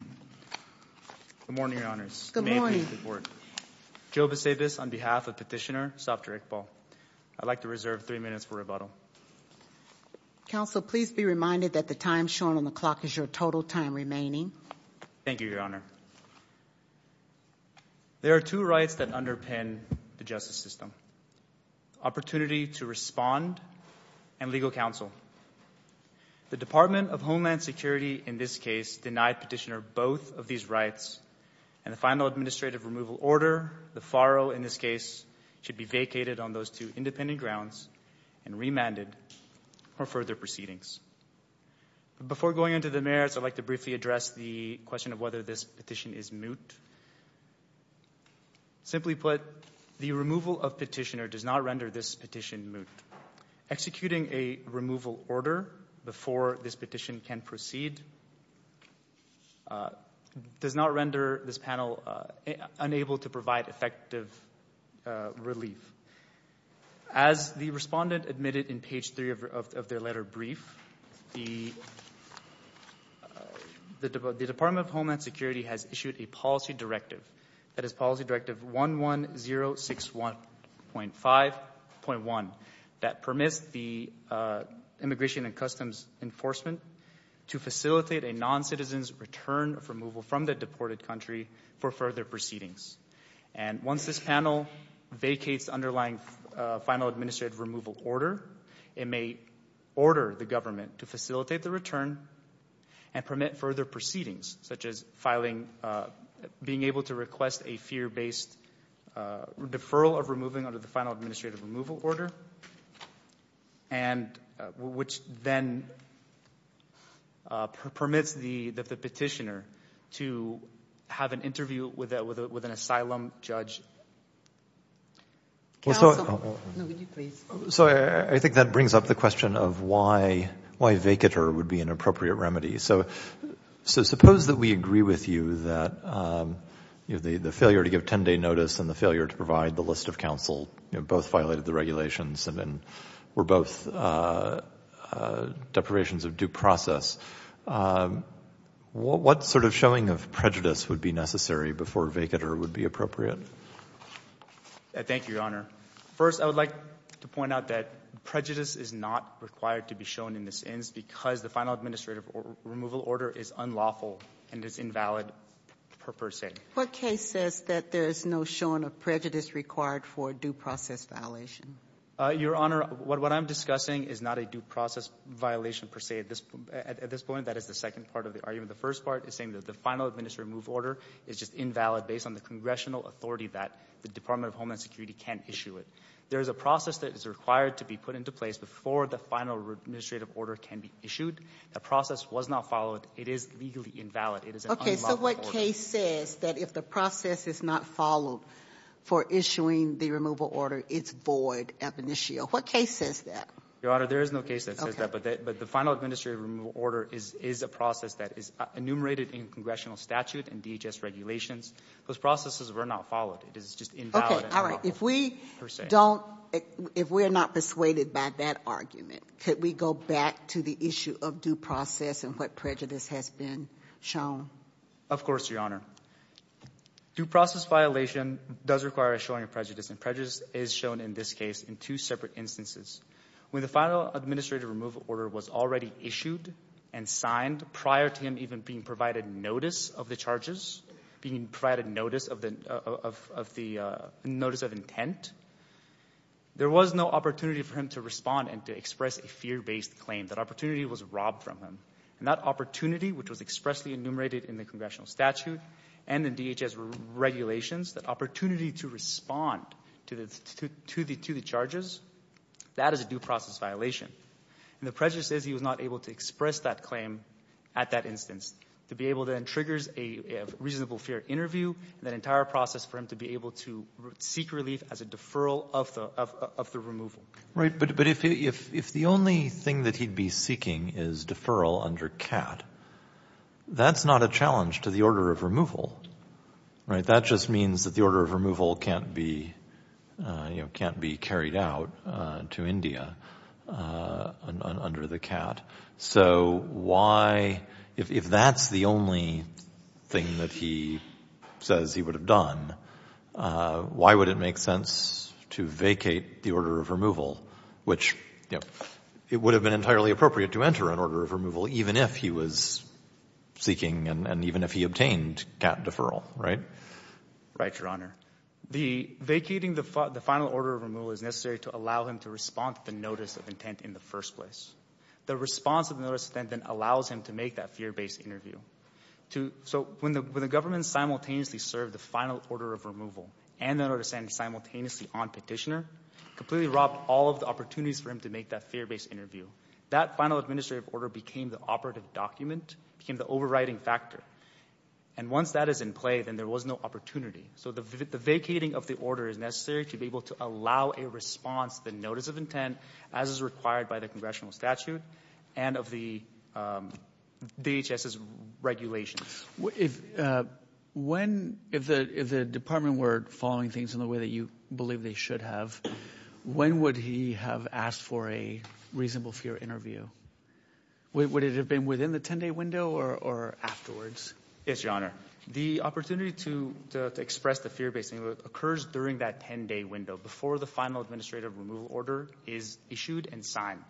Good morning, Your Honors. Good morning. Joe Vesavis on behalf of Petitioner, Dr. Iqbal. I'd like to reserve three minutes for rebuttal. Counsel, please be reminded that the time shown on the clock is your total time remaining. Thank you, Your Honor. There are two rights that underpin the justice system. Opportunity to respond and legal counsel. The Department of Homeland Security in this case denied Petitioner both of these rights. And the final administrative removal order, the FARO in this case, should be vacated on those two independent grounds and remanded for further proceedings. Before going on to the merits, I'd like to briefly address the question of whether this petition is moot. Simply put, the removal of Petitioner does not render this petition moot. Executing a removal order before this petition can proceed does not render this panel unable to provide effective relief. As the respondent admitted in page three of their letter brief, the Department of Homeland Security has issued a policy directive. That is Policy Directive 11061.1 that permits the Immigration and Customs Enforcement to facilitate a non-citizen's return of removal from the deported country for further proceedings. And once this panel vacates the underlying final administrative removal order, it may order the government to facilitate the return and permit further proceedings, such as being able to request a fear-based deferral of removing under the final administrative removal order, which then permits the Petitioner to have an interview with an asylum judge. Counsel, would you please? I think that brings up the question of why vacater would be an appropriate remedy. So suppose that we agree with you that the failure to give 10-day notice and the failure to provide the list of counsel both violated the regulations and were both deprivations of due process. What sort of showing of prejudice would be necessary before vacater would be appropriate? Thank you, Your Honor. First, I would like to point out that prejudice is not required to be shown in this instance because the final administrative removal order is unlawful and is invalid per se. What case says that there is no showing of prejudice required for a due process violation? Your Honor, what I'm discussing is not a due process violation per se at this point. That is the second part of the argument. The first part is saying that the final administrative removal order is just invalid based on the congressional authority that the Department of Homeland Security can't issue it. There is a process that is required to be put into place before the final administrative order can be issued. That process was not followed. It is legally invalid. It is an unlawful order. Okay, so what case says that if the process is not followed for issuing the removal order, it's void ab initio? What case says that? Your Honor, there is no case that says that, but the final administrative removal order is a process that is enumerated in congressional statute and DHS regulations. Those processes were not followed. It is just invalid and unlawful per se. Okay, all right. If we don't – if we're not persuaded by that argument, could we go back to the issue of due process and what prejudice has been shown? Of course, Your Honor. Due process violation does require a showing of prejudice, and prejudice is shown in this case in two separate instances. When the final administrative removal order was already issued and signed prior to him even being provided notice of the charges, being provided notice of the – notice of intent, there was no opportunity for him to respond and to express a fear-based claim. That opportunity was robbed from him. And that opportunity, which was expressly enumerated in the congressional statute and in DHS regulations, that opportunity to respond to the charges, that is a due process violation. And the prejudice is he was not able to express that claim at that instance to be able to then trigger a reasonable fear interview, and that entire process for him to be able to seek relief as a deferral of the removal. Right, but if the only thing that he'd be seeking is deferral under CAT, that's not a challenge to the order of removal. That just means that the order of removal can't be carried out to India under the CAT. So why – if that's the only thing that he says he would have done, why would it make sense to vacate the order of removal, which it would have been entirely appropriate to enter an order of removal even if he was seeking and even if he obtained CAT deferral, right? Right, Your Honor. Vacating the final order of removal is necessary to allow him to respond to the notice of intent in the first place. The response of the notice of intent then allows him to make that fear-based interview. So when the government simultaneously served the final order of removal and the notice of intent simultaneously on petitioner, completely robbed all of the opportunities for him to make that fear-based interview, that final administrative order became the operative document, became the overriding factor. And once that is in play, then there was no opportunity. So the vacating of the order is necessary to be able to allow a response to the notice of intent as is required by the congressional statute and of the DHS's regulations. If the department were following things in the way that you believe they should have, when would he have asked for a reasonable fear interview? Would it have been within the 10-day window or afterwards? Yes, Your Honor. The opportunity to express the fear-based interview occurs during that 10-day window, before the final administrative removal order is issued and signed.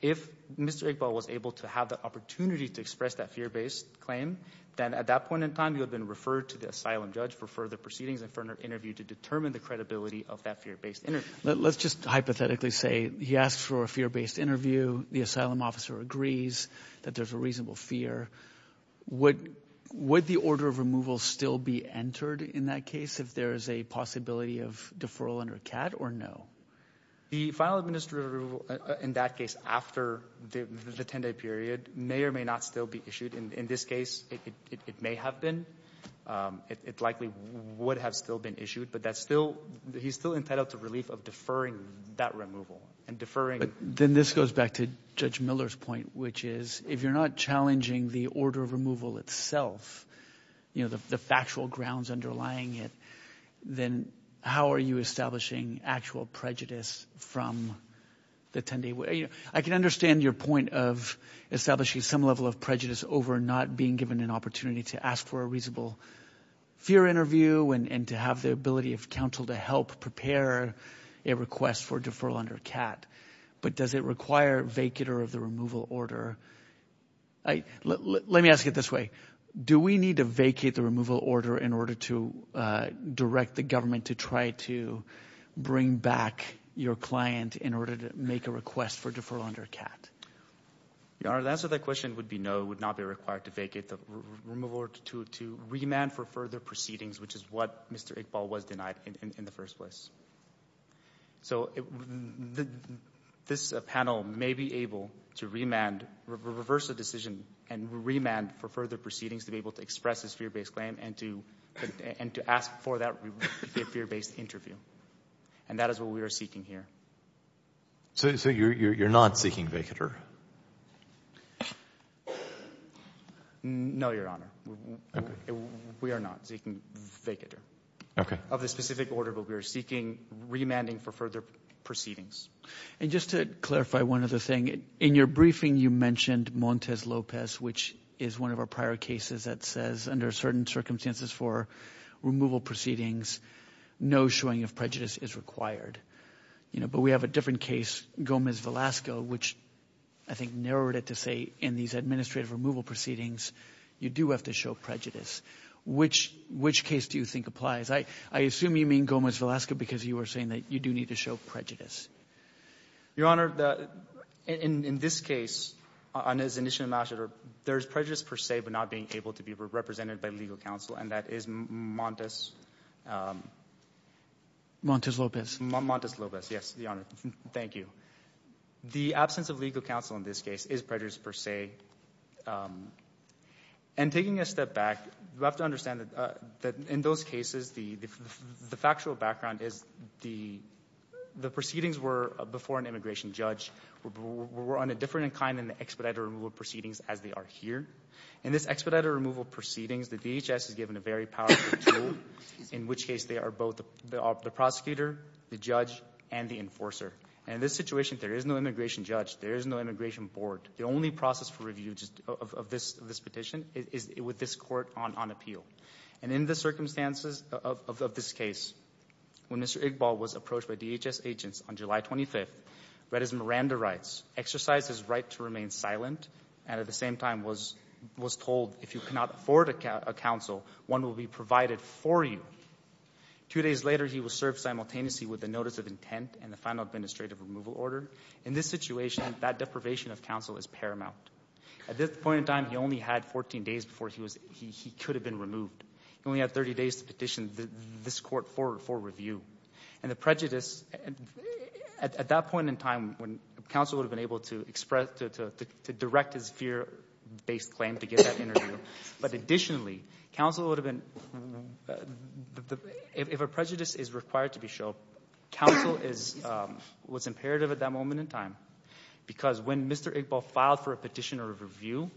If Mr. Iqbal was able to have the opportunity to express that fear-based claim, then at that point in time he would have been referred to the asylum judge for further proceedings and for an interview to determine the credibility of that fear-based interview. Let's just hypothetically say he asks for a fear-based interview. The asylum officer agrees that there's a reasonable fear. Would the order of removal still be entered in that case if there is a possibility of deferral under CAD or no? The final administrative removal in that case after the 10-day period may or may not still be issued. In this case, it may have been. It likely would have still been issued, but he's still entitled to relief of deferring that removal. Then this goes back to Judge Miller's point, which is if you're not challenging the order of removal itself, the factual grounds underlying it, then how are you establishing actual prejudice from the 10-day window? I can understand your point of establishing some level of prejudice over not being given an opportunity to ask for a reasonable fear interview and to have the ability of counsel to help prepare a request for deferral under CAD, but does it require vacular of the removal order? Let me ask it this way. Do we need to vacate the removal order in order to direct the government to try to bring back your client in order to make a request for deferral under CAD? Your Honor, the answer to that question would be no. It would not be required to vacate the removal order to remand for further proceedings, which is what Mr. Iqbal was denied in the first place. So this panel may be able to reverse the decision and remand for further proceedings to be able to express this fear-based claim and to ask for that fear-based interview, and that is what we are seeking here. So you're not seeking vacatur? No, Your Honor. We are not seeking vacatur. Okay. We don't have the specific order, but we are seeking remanding for further proceedings. And just to clarify one other thing, in your briefing you mentioned Montes Lopez, which is one of our prior cases that says under certain circumstances for removal proceedings, no showing of prejudice is required. But we have a different case, Gomez Velasco, which I think narrowed it to say in these administrative removal proceedings you do have to show prejudice. Which case do you think applies? I assume you mean Gomez Velasco because you were saying that you do need to show prejudice. Your Honor, in this case, there is prejudice per se but not being able to be represented by legal counsel, and that is Montes. Montes Lopez. Montes Lopez, yes, Your Honor. Thank you. The absence of legal counsel in this case is prejudice per se. And taking a step back, you have to understand that in those cases, the factual background is the proceedings were before an immigration judge were on a different kind in the expedited removal proceedings as they are here. In this expedited removal proceedings, the DHS is given a very powerful tool, in which case they are both the prosecutor, the judge, and the enforcer. And in this situation, there is no immigration judge. There is no immigration board. The only process for review of this petition is with this court on appeal. And in the circumstances of this case, when Mr. Iqbal was approached by DHS agents on July 25th, Reza Miranda writes, exercise his right to remain silent and at the same time was told, if you cannot afford a counsel, one will be provided for you. Two days later, he was served simultaneously with a notice of intent and the final administrative removal order. In this situation, that deprivation of counsel is paramount. At this point in time, he only had 14 days before he could have been removed. He only had 30 days to petition this court for review. And the prejudice, at that point in time, counsel would have been able to express, to direct his fear-based claim to get that interview. But additionally, counsel would have been, if a prejudice is required to be shown, counsel is what's imperative at that moment in time. Because when Mr. Iqbal filed for a petitioner of review,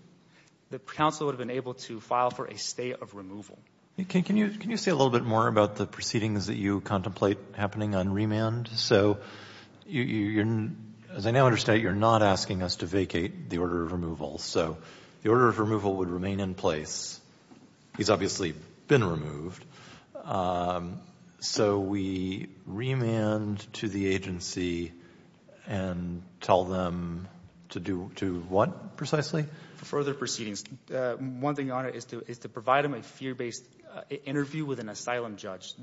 the counsel would have been able to file for a stay of removal. Can you say a little bit more about the proceedings that you contemplate happening on remand? So, as I now understand, you're not asking us to vacate the order of removal. So the order of removal would remain in place. He's obviously been removed. So we remand to the agency and tell them to do what, precisely? Further proceedings. One thing on it is to provide him a fear-based interview with an asylum judge.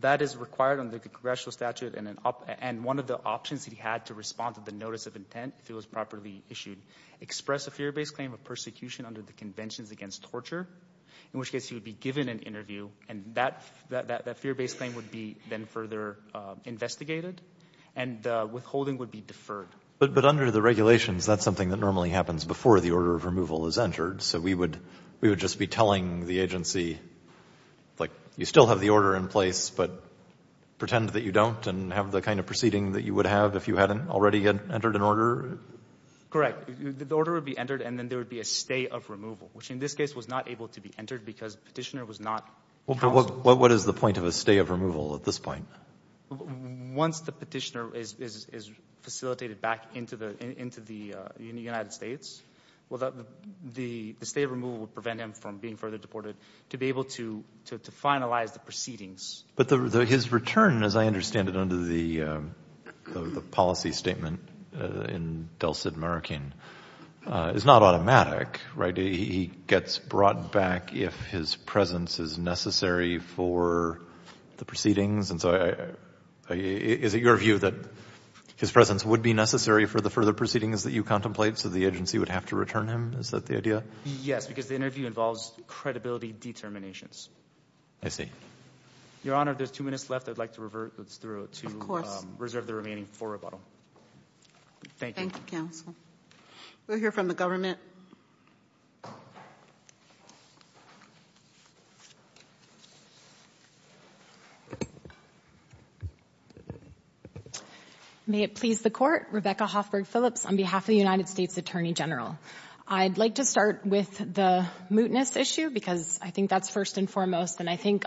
That is required under the congressional statute, and one of the options that he had to respond to the notice of intent, if it was properly issued, express a fear-based claim of persecution under the Conventions Against Torture, in which case he would be given an interview, and that fear-based claim would be then further investigated, and the withholding would be deferred. But under the regulations, that's something that normally happens before the order of removal is entered. So we would just be telling the agency, like, you still have the order in place, but pretend that you don't and have the kind of proceeding that you would have if you hadn't already entered an order? Correct. The order would be entered, and then there would be a stay of removal, which in this case was not able to be entered because the petitioner was not counseled. What is the point of a stay of removal at this point? Once the petitioner is facilitated back into the United States, the stay of removal would prevent him from being further deported to be able to finalize the proceedings. But his return, as I understand it under the policy statement in Delsed, American, is not automatic, right? He gets brought back if his presence is necessary for the proceedings. And so is it your view that his presence would be necessary for the further proceedings that you contemplate, so the agency would have to return him? Is that the idea? Yes, because the interview involves credibility determinations. I see. Your Honor, there's two minutes left. I'd like to revert through to reserve the remaining for rebuttal. Thank you. Thank you, counsel. We'll hear from the government. May it please the Court. Rebecca Hoffberg Phillips on behalf of the United States Attorney General. I'd like to start with the mootness issue because I think that's first and foremost, and I think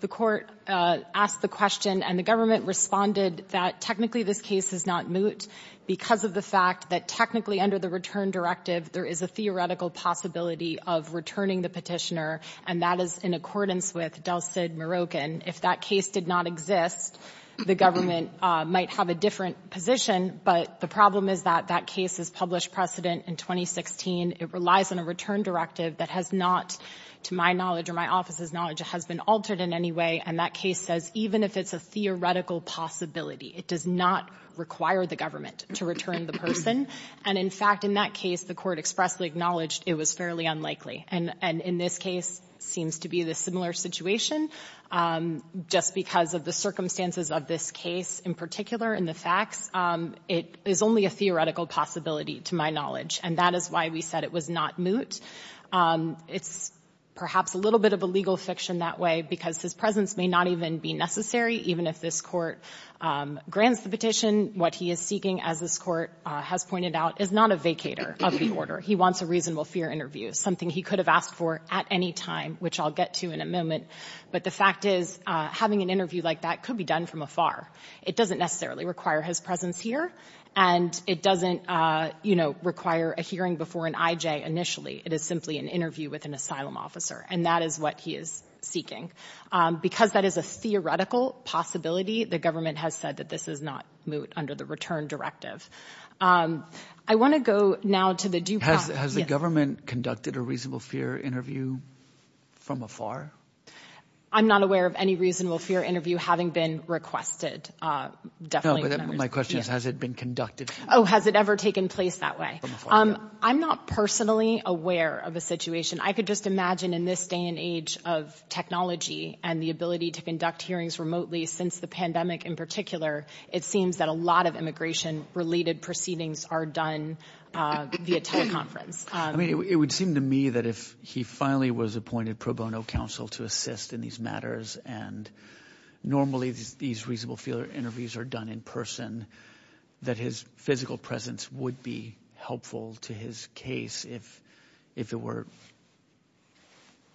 the Court asked the question and the government responded that technically this case is not moot because of the fact that technically under the return directive there is a theoretical possibility of returning the petitioner, and that is in accordance with Delsed, Moroccan. If that case did not exist, the government might have a different position, but the problem is that that case is published precedent in 2016. It relies on a return directive that has not, to my knowledge or my office's knowledge, has been altered in any way, and that case says even if it's a theoretical possibility, it does not require the government to return the person. And in fact, in that case, the Court expressly acknowledged it was fairly unlikely, and in this case seems to be the similar situation. Just because of the circumstances of this case in particular and the facts, it is only a theoretical possibility to my knowledge, and that is why we said it was not moot. It's perhaps a little bit of a legal fiction that way because his presence may not even be necessary, even if this Court grants the petition. What he is seeking, as this Court has pointed out, is not a vacator of the order. He wants a reasonable fear interview, something he could have asked for at any time, which I'll get to in a moment, but the fact is having an interview like that could be done from afar. It doesn't necessarily require his presence here, and it doesn't, you know, require a hearing before an IJ initially. It is simply an interview with an asylum officer, and that is what he is seeking. Because that is a theoretical possibility, the government has said that this is not moot under the return directive. I want to go now to the due process. Has the government conducted a reasonable fear interview from afar? I'm not aware of any reasonable fear interview having been requested. No, but my question is has it been conducted? Oh, has it ever taken place that way? From afar, yeah. I'm not personally aware of a situation. I could just imagine in this day and age of technology and the ability to conduct hearings remotely since the pandemic in particular, it seems that a lot of immigration-related proceedings are done via teleconference. I mean, it would seem to me that if he finally was appointed pro bono counsel to assist in these matters and normally these reasonable fear interviews are done in person, that his physical presence would be helpful to his case if it were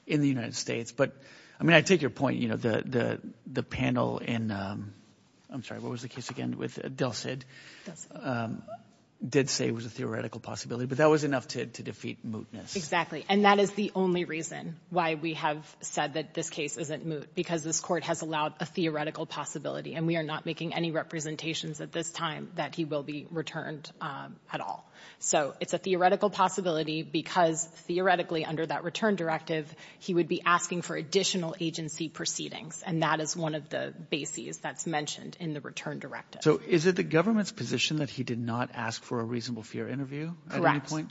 in the United States. But, I mean, I take your point, you know, the panel in – I'm sorry, what was the case again with – Delsed did say it was a theoretical possibility, but that was enough to defeat mootness. Exactly, and that is the only reason why we have said that this case isn't moot, because this court has allowed a theoretical possibility, and we are not making any representations at this time that he will be returned at all. So it's a theoretical possibility because theoretically under that return directive, he would be asking for additional agency proceedings, and that is one of the bases that's mentioned in the return directive. So is it the government's position that he did not ask for a reasonable fear interview at any point?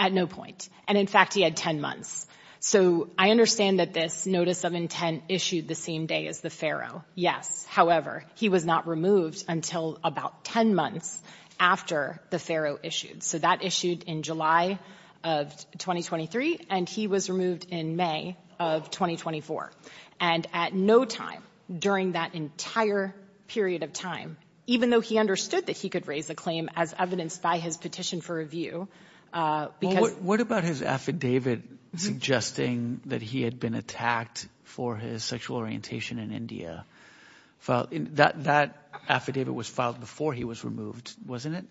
At no point. And, in fact, he had 10 months. So I understand that this notice of intent issued the same day as the Faro. Yes. However, he was not removed until about 10 months after the Faro issued. So that issued in July of 2023, and he was removed in May of 2024. And at no time during that entire period of time, even though he understood that he could raise a claim as evidenced by his petition for review, because – Suggesting that he had been attacked for his sexual orientation in India. That affidavit was filed before he was removed, wasn't it?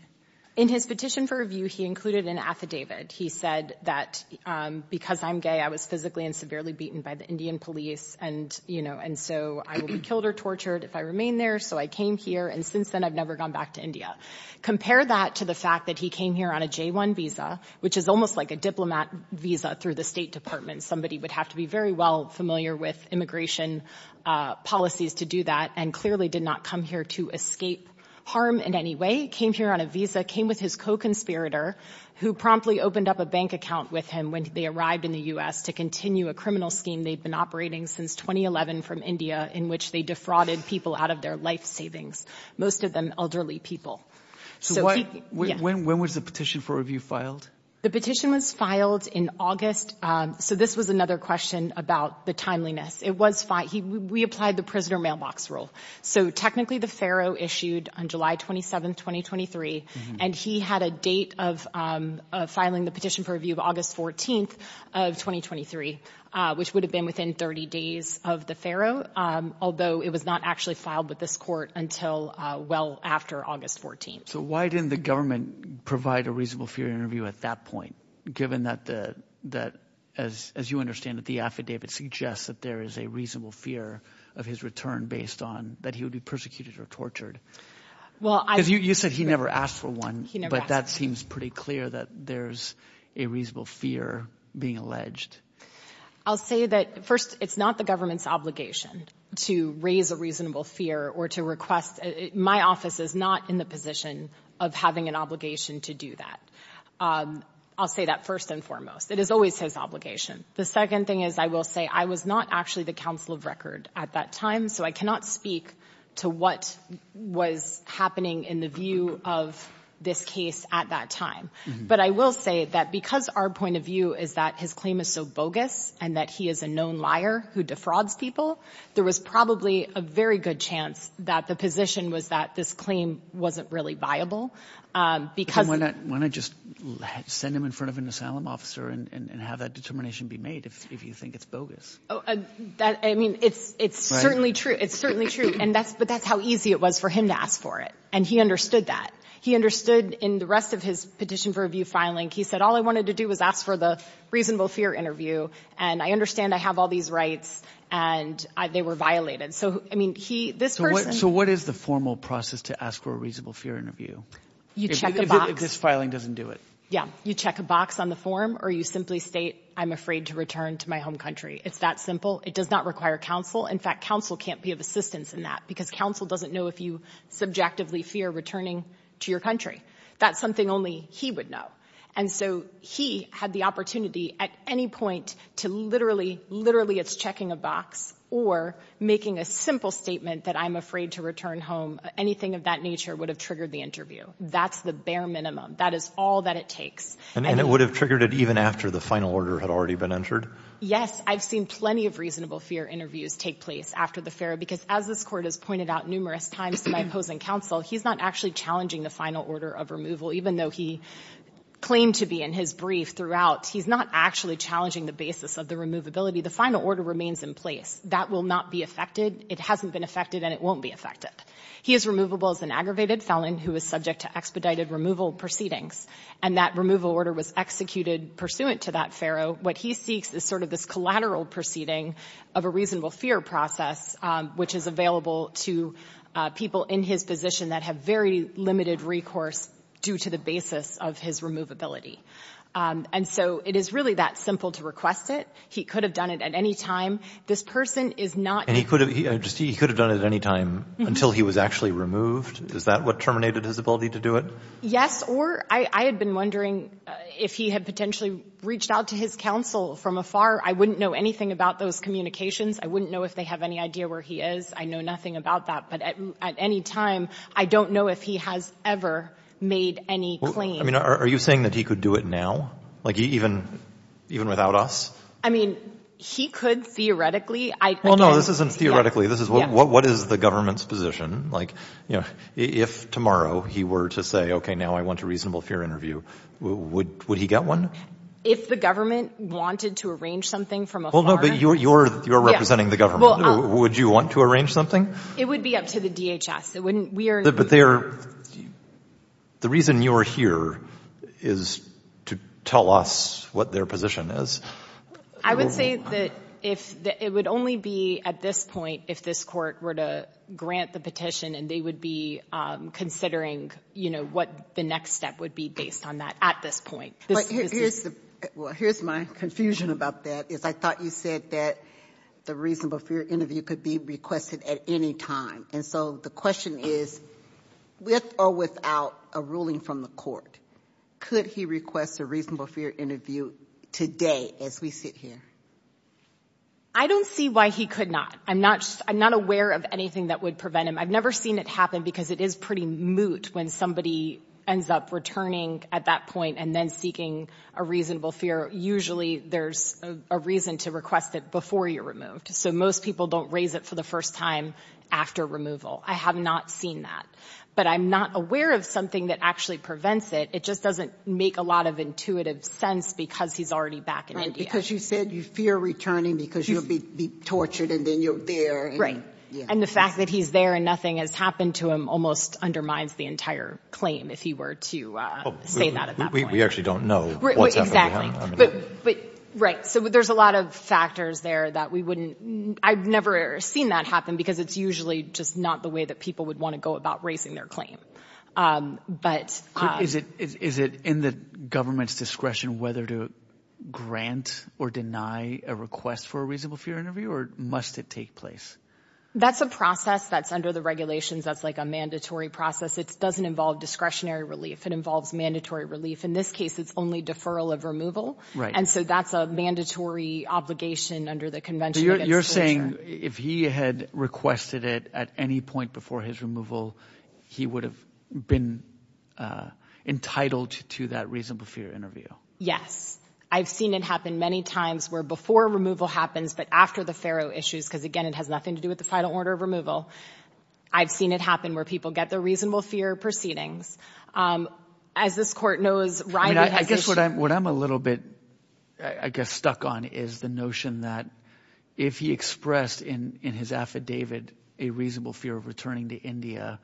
In his petition for review, he included an affidavit. He said that because I'm gay, I was physically and severely beaten by the Indian police, and so I will be killed or tortured if I remain there, so I came here, and since then I've never gone back to India. Compare that to the fact that he came here on a J-1 visa, which is almost like a diplomat visa through the State Department. Somebody would have to be very well familiar with immigration policies to do that, and clearly did not come here to escape harm in any way. He came here on a visa, came with his co-conspirator, who promptly opened up a bank account with him when they arrived in the U.S. to continue a criminal scheme they'd been operating since 2011 from India in which they defrauded people out of their life savings, most of them elderly people. So when was the petition for review filed? The petition was filed in August. So this was another question about the timeliness. It was filed. We applied the prisoner mailbox rule. So technically the pharaoh issued on July 27, 2023, and he had a date of filing the petition for review of August 14 of 2023, which would have been within 30 days of the pharaoh, although it was not actually filed with this court until well after August 14. So why didn't the government provide a reasonable fear interview at that point, given that, as you understand it, the affidavit suggests that there is a reasonable fear of his return based on that he would be persecuted or tortured? Because you said he never asked for one, but that seems pretty clear that there's a reasonable fear being alleged. I'll say that, first, it's not the government's obligation to raise a reasonable fear or to request it. My office is not in the position of having an obligation to do that. I'll say that first and foremost. It is always his obligation. The second thing is I will say I was not actually the counsel of record at that time, so I cannot speak to what was happening in the view of this case at that time. But I will say that because our point of view is that his claim is so bogus and that he is a known liar who defrauds people, there was probably a very good chance that the position was that this claim wasn't really viable because — Why not just send him in front of an asylum officer and have that determination be made if you think it's bogus? I mean, it's certainly true. It's certainly true, but that's how easy it was for him to ask for it, and he understood that. He understood in the rest of his petition for review filing, he said, all I wanted to do was ask for the reasonable fear interview, and I understand I have all these rights, and they were violated. So, I mean, this person — So what is the formal process to ask for a reasonable fear interview? You check a box. If this filing doesn't do it. Yeah. You check a box on the form or you simply state, I'm afraid to return to my home country. It's that simple. It does not require counsel. In fact, counsel can't be of assistance in that because counsel doesn't know if you subjectively fear returning to your country. That's something only he would know. And so he had the opportunity at any point to literally, literally it's checking a box or making a simple statement that I'm afraid to return home. Anything of that nature would have triggered the interview. That's the bare minimum. That is all that it takes. And it would have triggered it even after the final order had already been entered? Yes. I've seen plenty of reasonable fear interviews take place after the fair because as this Court has pointed out numerous times to my opposing counsel, he's not actually challenging the final order of removal. Even though he claimed to be in his brief throughout, he's not actually challenging the basis of the removability. The final order remains in place. That will not be affected. It hasn't been affected and it won't be affected. He is removable as an aggravated felon who is subject to expedited removal proceedings, and that removal order was executed pursuant to that FARO. So what he seeks is sort of this collateral proceeding of a reasonable fear process, which is available to people in his position that have very limited recourse due to the basis of his removability. And so it is really that simple to request it. He could have done it at any time. This person is not. And he could have done it at any time until he was actually removed? Is that what terminated his ability to do it? Yes, or I had been wondering if he had potentially reached out to his counsel from afar. I wouldn't know anything about those communications. I wouldn't know if they have any idea where he is. I know nothing about that. But at any time, I don't know if he has ever made any claim. I mean, are you saying that he could do it now? Like even without us? I mean, he could theoretically. Well, no, this isn't theoretically. This is what is the government's position? Like, you know, if tomorrow he were to say, okay, now I want a reasonable fear interview, would he get one? If the government wanted to arrange something from afar? Well, no, but you're representing the government. Would you want to arrange something? It would be up to the DHS. It wouldn't be up to us. But the reason you're here is to tell us what their position is? I would say that it would only be at this point if this court were to grant the petition and they would be considering, you know, what the next step would be based on that at this point. Here's my confusion about that. I thought you said that the reasonable fear interview could be requested at any time. And so the question is, with or without a ruling from the court, could he request a reasonable fear interview today as we sit here? I don't see why he could not. I'm not aware of anything that would prevent him. I've never seen it happen because it is pretty moot when somebody ends up returning at that point and then seeking a reasonable fear. Usually there's a reason to request it before you're removed. So most people don't raise it for the first time after removal. I have not seen that. But I'm not aware of something that actually prevents it. It just doesn't make a lot of intuitive sense because he's already back in India. Because you said you fear returning because you'll be tortured and then you're there. And the fact that he's there and nothing has happened to him almost undermines the entire claim, if you were to say that at that point. We actually don't know what's happening. Exactly. Right. So there's a lot of factors there that we wouldn't – I've never seen that happen because it's usually just not the way that people would want to go about raising their claim. But – Is it in the government's discretion whether to grant or deny a request for a reasonable fear interview? Or must it take place? That's a process that's under the regulations. That's like a mandatory process. It doesn't involve discretionary relief. It involves mandatory relief. In this case, it's only deferral of removal. Right. And so that's a mandatory obligation under the Convention against Torture. So you're saying if he had requested it at any point before his removal, he would have been entitled to that reasonable fear interview? Yes. I've seen it happen many times where before removal happens but after the Faro issues because, again, it has nothing to do with the final order of removal. I've seen it happen where people get the reasonable fear proceedings. As this court knows – I guess what I'm a little bit, I guess, stuck on is the notion that if he expressed in his affidavit a reasonable fear of returning to India,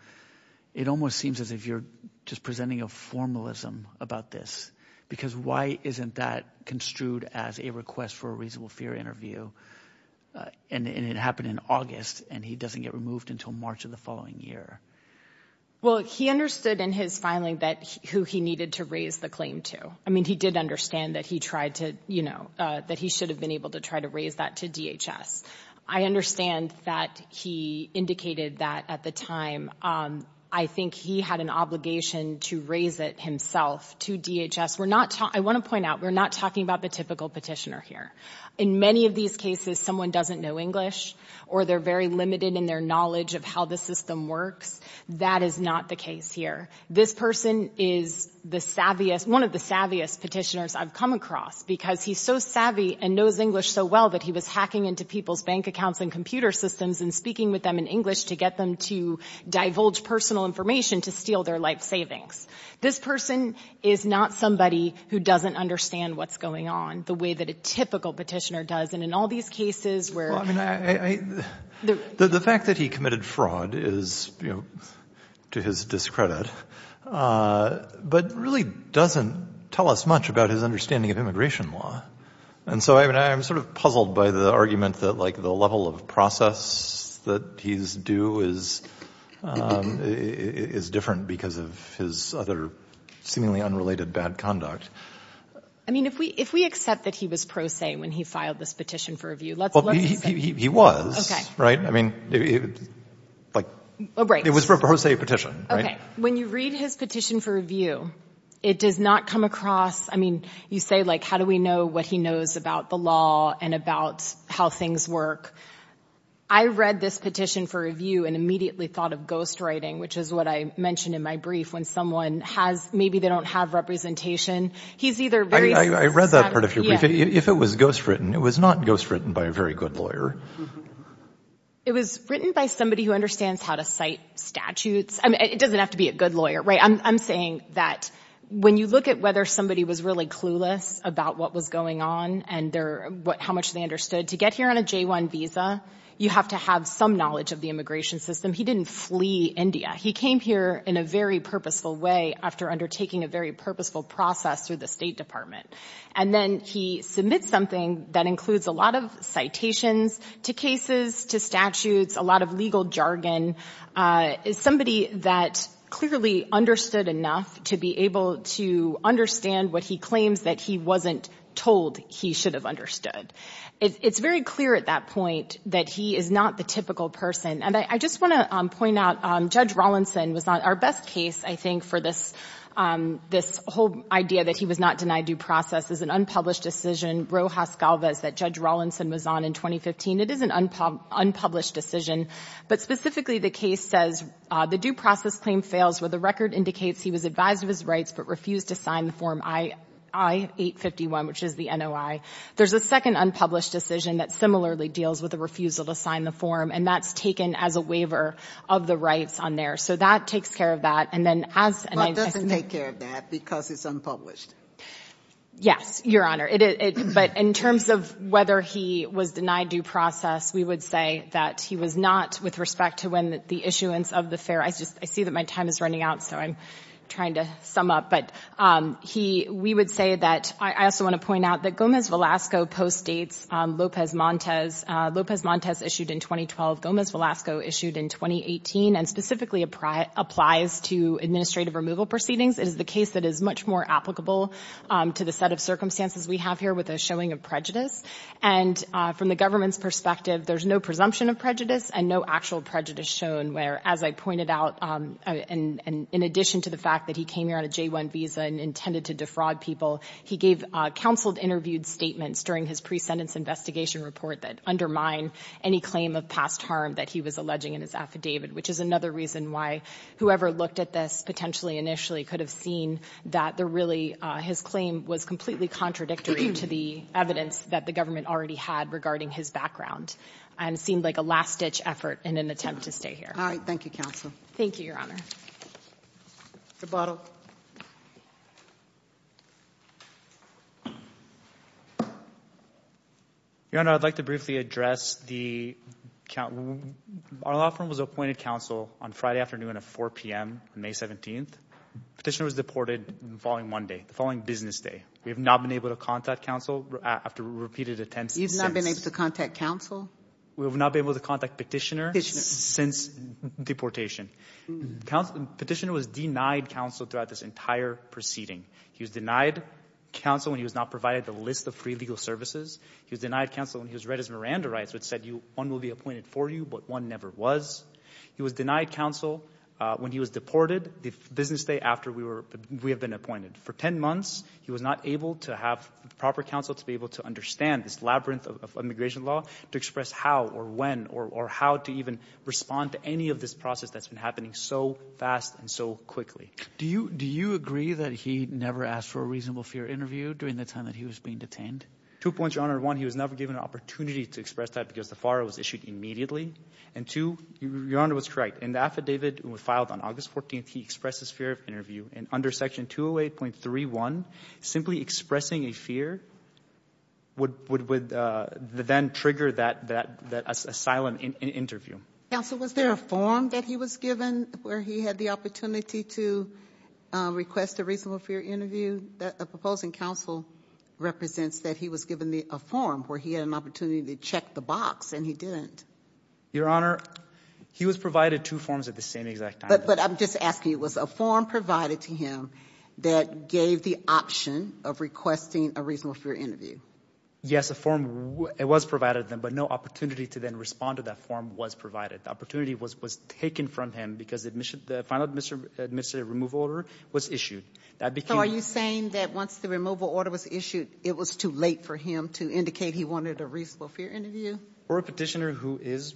it almost seems as if you're just presenting a formalism about this because why isn't that construed as a request for a reasonable fear interview? And it happened in August, and he doesn't get removed until March of the following year. Well, he understood in his filing who he needed to raise the claim to. I mean, he did understand that he tried to, you know, that he should have been able to try to raise that to DHS. I understand that he indicated that at the time. I think he had an obligation to raise it himself to DHS. We're not – I want to point out we're not talking about the typical petitioner here. In many of these cases, someone doesn't know English or they're very limited in their knowledge of how the system works. That is not the case here. This person is the savviest – one of the savviest petitioners I've come across because he's so savvy and knows English so well that he was hacking into people's bank accounts and computer systems and speaking with them in English to get them to divulge personal information to steal their life savings. This person is not somebody who doesn't understand what's going on the way that a typical petitioner does. And in all these cases where – Well, I mean, the fact that he committed fraud is, you know, to his discredit, but really doesn't tell us much about his understanding of immigration law. And so I'm sort of puzzled by the argument that, like, the level of process that he's due is different because of his other seemingly unrelated bad conduct. I mean, if we accept that he was pro se when he filed this petition for review, let's assume – Well, he was, right? I mean, like – Oh, right. It was a pro se petition, right? Okay. When you read his petition for review, it does not come across – I mean, you say, like, how do we know what he knows about the law and about how things work. I read this petition for review and immediately thought of ghostwriting, which is what I mentioned in my brief when someone has – maybe they don't have representation. He's either very – I read that part of your brief. If it was ghostwritten, it was not ghostwritten by a very good lawyer. It was written by somebody who understands how to cite statutes. I mean, it doesn't have to be a good lawyer, right? I'm saying that when you look at whether somebody was really clueless about what was going on and how much they understood, to get here on a J-1 visa, you have to have some knowledge of the immigration system. He didn't flee India. He came here in a very purposeful way after undertaking a very purposeful process through the State Department. And then he submits something that includes a lot of citations to cases, to statutes, a lot of legal jargon. It's somebody that clearly understood enough to be able to understand what he claims that he wasn't told he should have understood. It's very clear at that point that he is not the typical person. And I just want to point out Judge Rawlinson was not – our best case, I think, for this whole idea that he was not denied due process is an unpublished decision, Rojas Galvez, that Judge Rawlinson was on in 2015. It is an unpublished decision. But specifically, the case says the due process claim fails where the record indicates he was advised of his rights but refused to sign the form I-851, which is the NOI. There's a second unpublished decision that similarly deals with the refusal to sign the form, and that's taken as a waiver of the rights on there. So that takes care of that. And then as – But it doesn't take care of that because it's unpublished. Yes, Your Honor. But in terms of whether he was denied due process, we would say that he was not with respect to when the issuance of the fare – I see that my time is running out, so I'm trying to sum up. But we would say that – I also want to point out that Gomez-Velasco postdates Lopez-Montes. Lopez-Montes issued in 2012, Gomez-Velasco issued in 2018, and specifically applies to administrative removal proceedings. It is the case that is much more applicable to the set of circumstances we have here with a showing of prejudice. And from the government's perspective, there's no presumption of prejudice and no actual prejudice shown where, as I pointed out, in addition to the fact that he came here on a J-1 visa and intended to defraud people, he gave counseled interviewed statements during his pre-sentence investigation report that undermine any claim of past harm that he was alleging in his affidavit, which is another reason why whoever looked at this potentially initially could have seen that there really – his claim was completely contradictory to the evidence that the government already had regarding his background and seemed like a last-ditch effort in an attempt to stay here. All right. Thank you, Counsel. Thank you, Your Honor. Mr. Bottle. Your Honor, I'd like to briefly address the – our law firm was appointed counsel on Friday afternoon at 4 p.m. on May 17th. Petitioner was deported the following Monday, the following business day. We have not been able to contact counsel after repeated attempts. You've not been able to contact counsel? We have not been able to contact Petitioner since deportation. Petitioner was denied counsel throughout this entire proceeding. He was denied counsel when he was not provided the list of free legal services. He was denied counsel when he was read as Miranda rights, which said one will be appointed for you, but one never was. He was denied counsel when he was deported the business day after we have been appointed. For 10 months, he was not able to have proper counsel to be able to understand this labyrinth of immigration law to express how or when or how to even respond to any of this process that's been happening so fast and so quickly. Do you agree that he never asked for a reasonable fear interview during the time that he was being detained? Two points, Your Honor. One, he was never given an opportunity to express that because the FARA was issued immediately. And two, Your Honor was correct. In the affidavit filed on August 14th, he expressed his fear of interview. And under Section 208.31, simply expressing a fear would then trigger that asylum interview. Counsel, was there a form that he was given where he had the opportunity to request a reasonable fear interview? The proposing counsel represents that he was given a form where he had an opportunity to check the box, and he didn't. Your Honor, he was provided two forms at the same exact time. But I'm just asking, was a form provided to him that gave the option of requesting a reasonable fear interview? Yes, a form was provided to him, but no opportunity to then respond to that form was provided. The opportunity was taken from him because the final administrative removal order was issued. So are you saying that once the removal order was issued, it was too late for him to indicate he wanted a reasonable fear interview? For a petitioner who is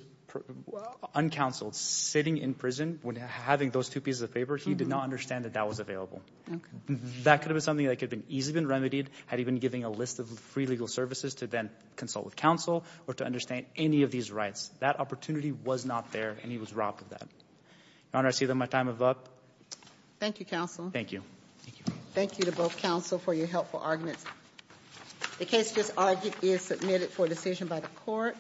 uncounseled, sitting in prison, when having those two pieces of paper, he did not understand that that was available. That could have been something that could have easily been remedied had he been given a list of free legal services to then consult with counsel or to understand any of these rights. That opportunity was not there, and he was robbed of that. Your Honor, I see that my time is up. Thank you, Counsel. Thank you. Thank you to both counsel for your helpful arguments. The case just argued is submitted for decision by the court.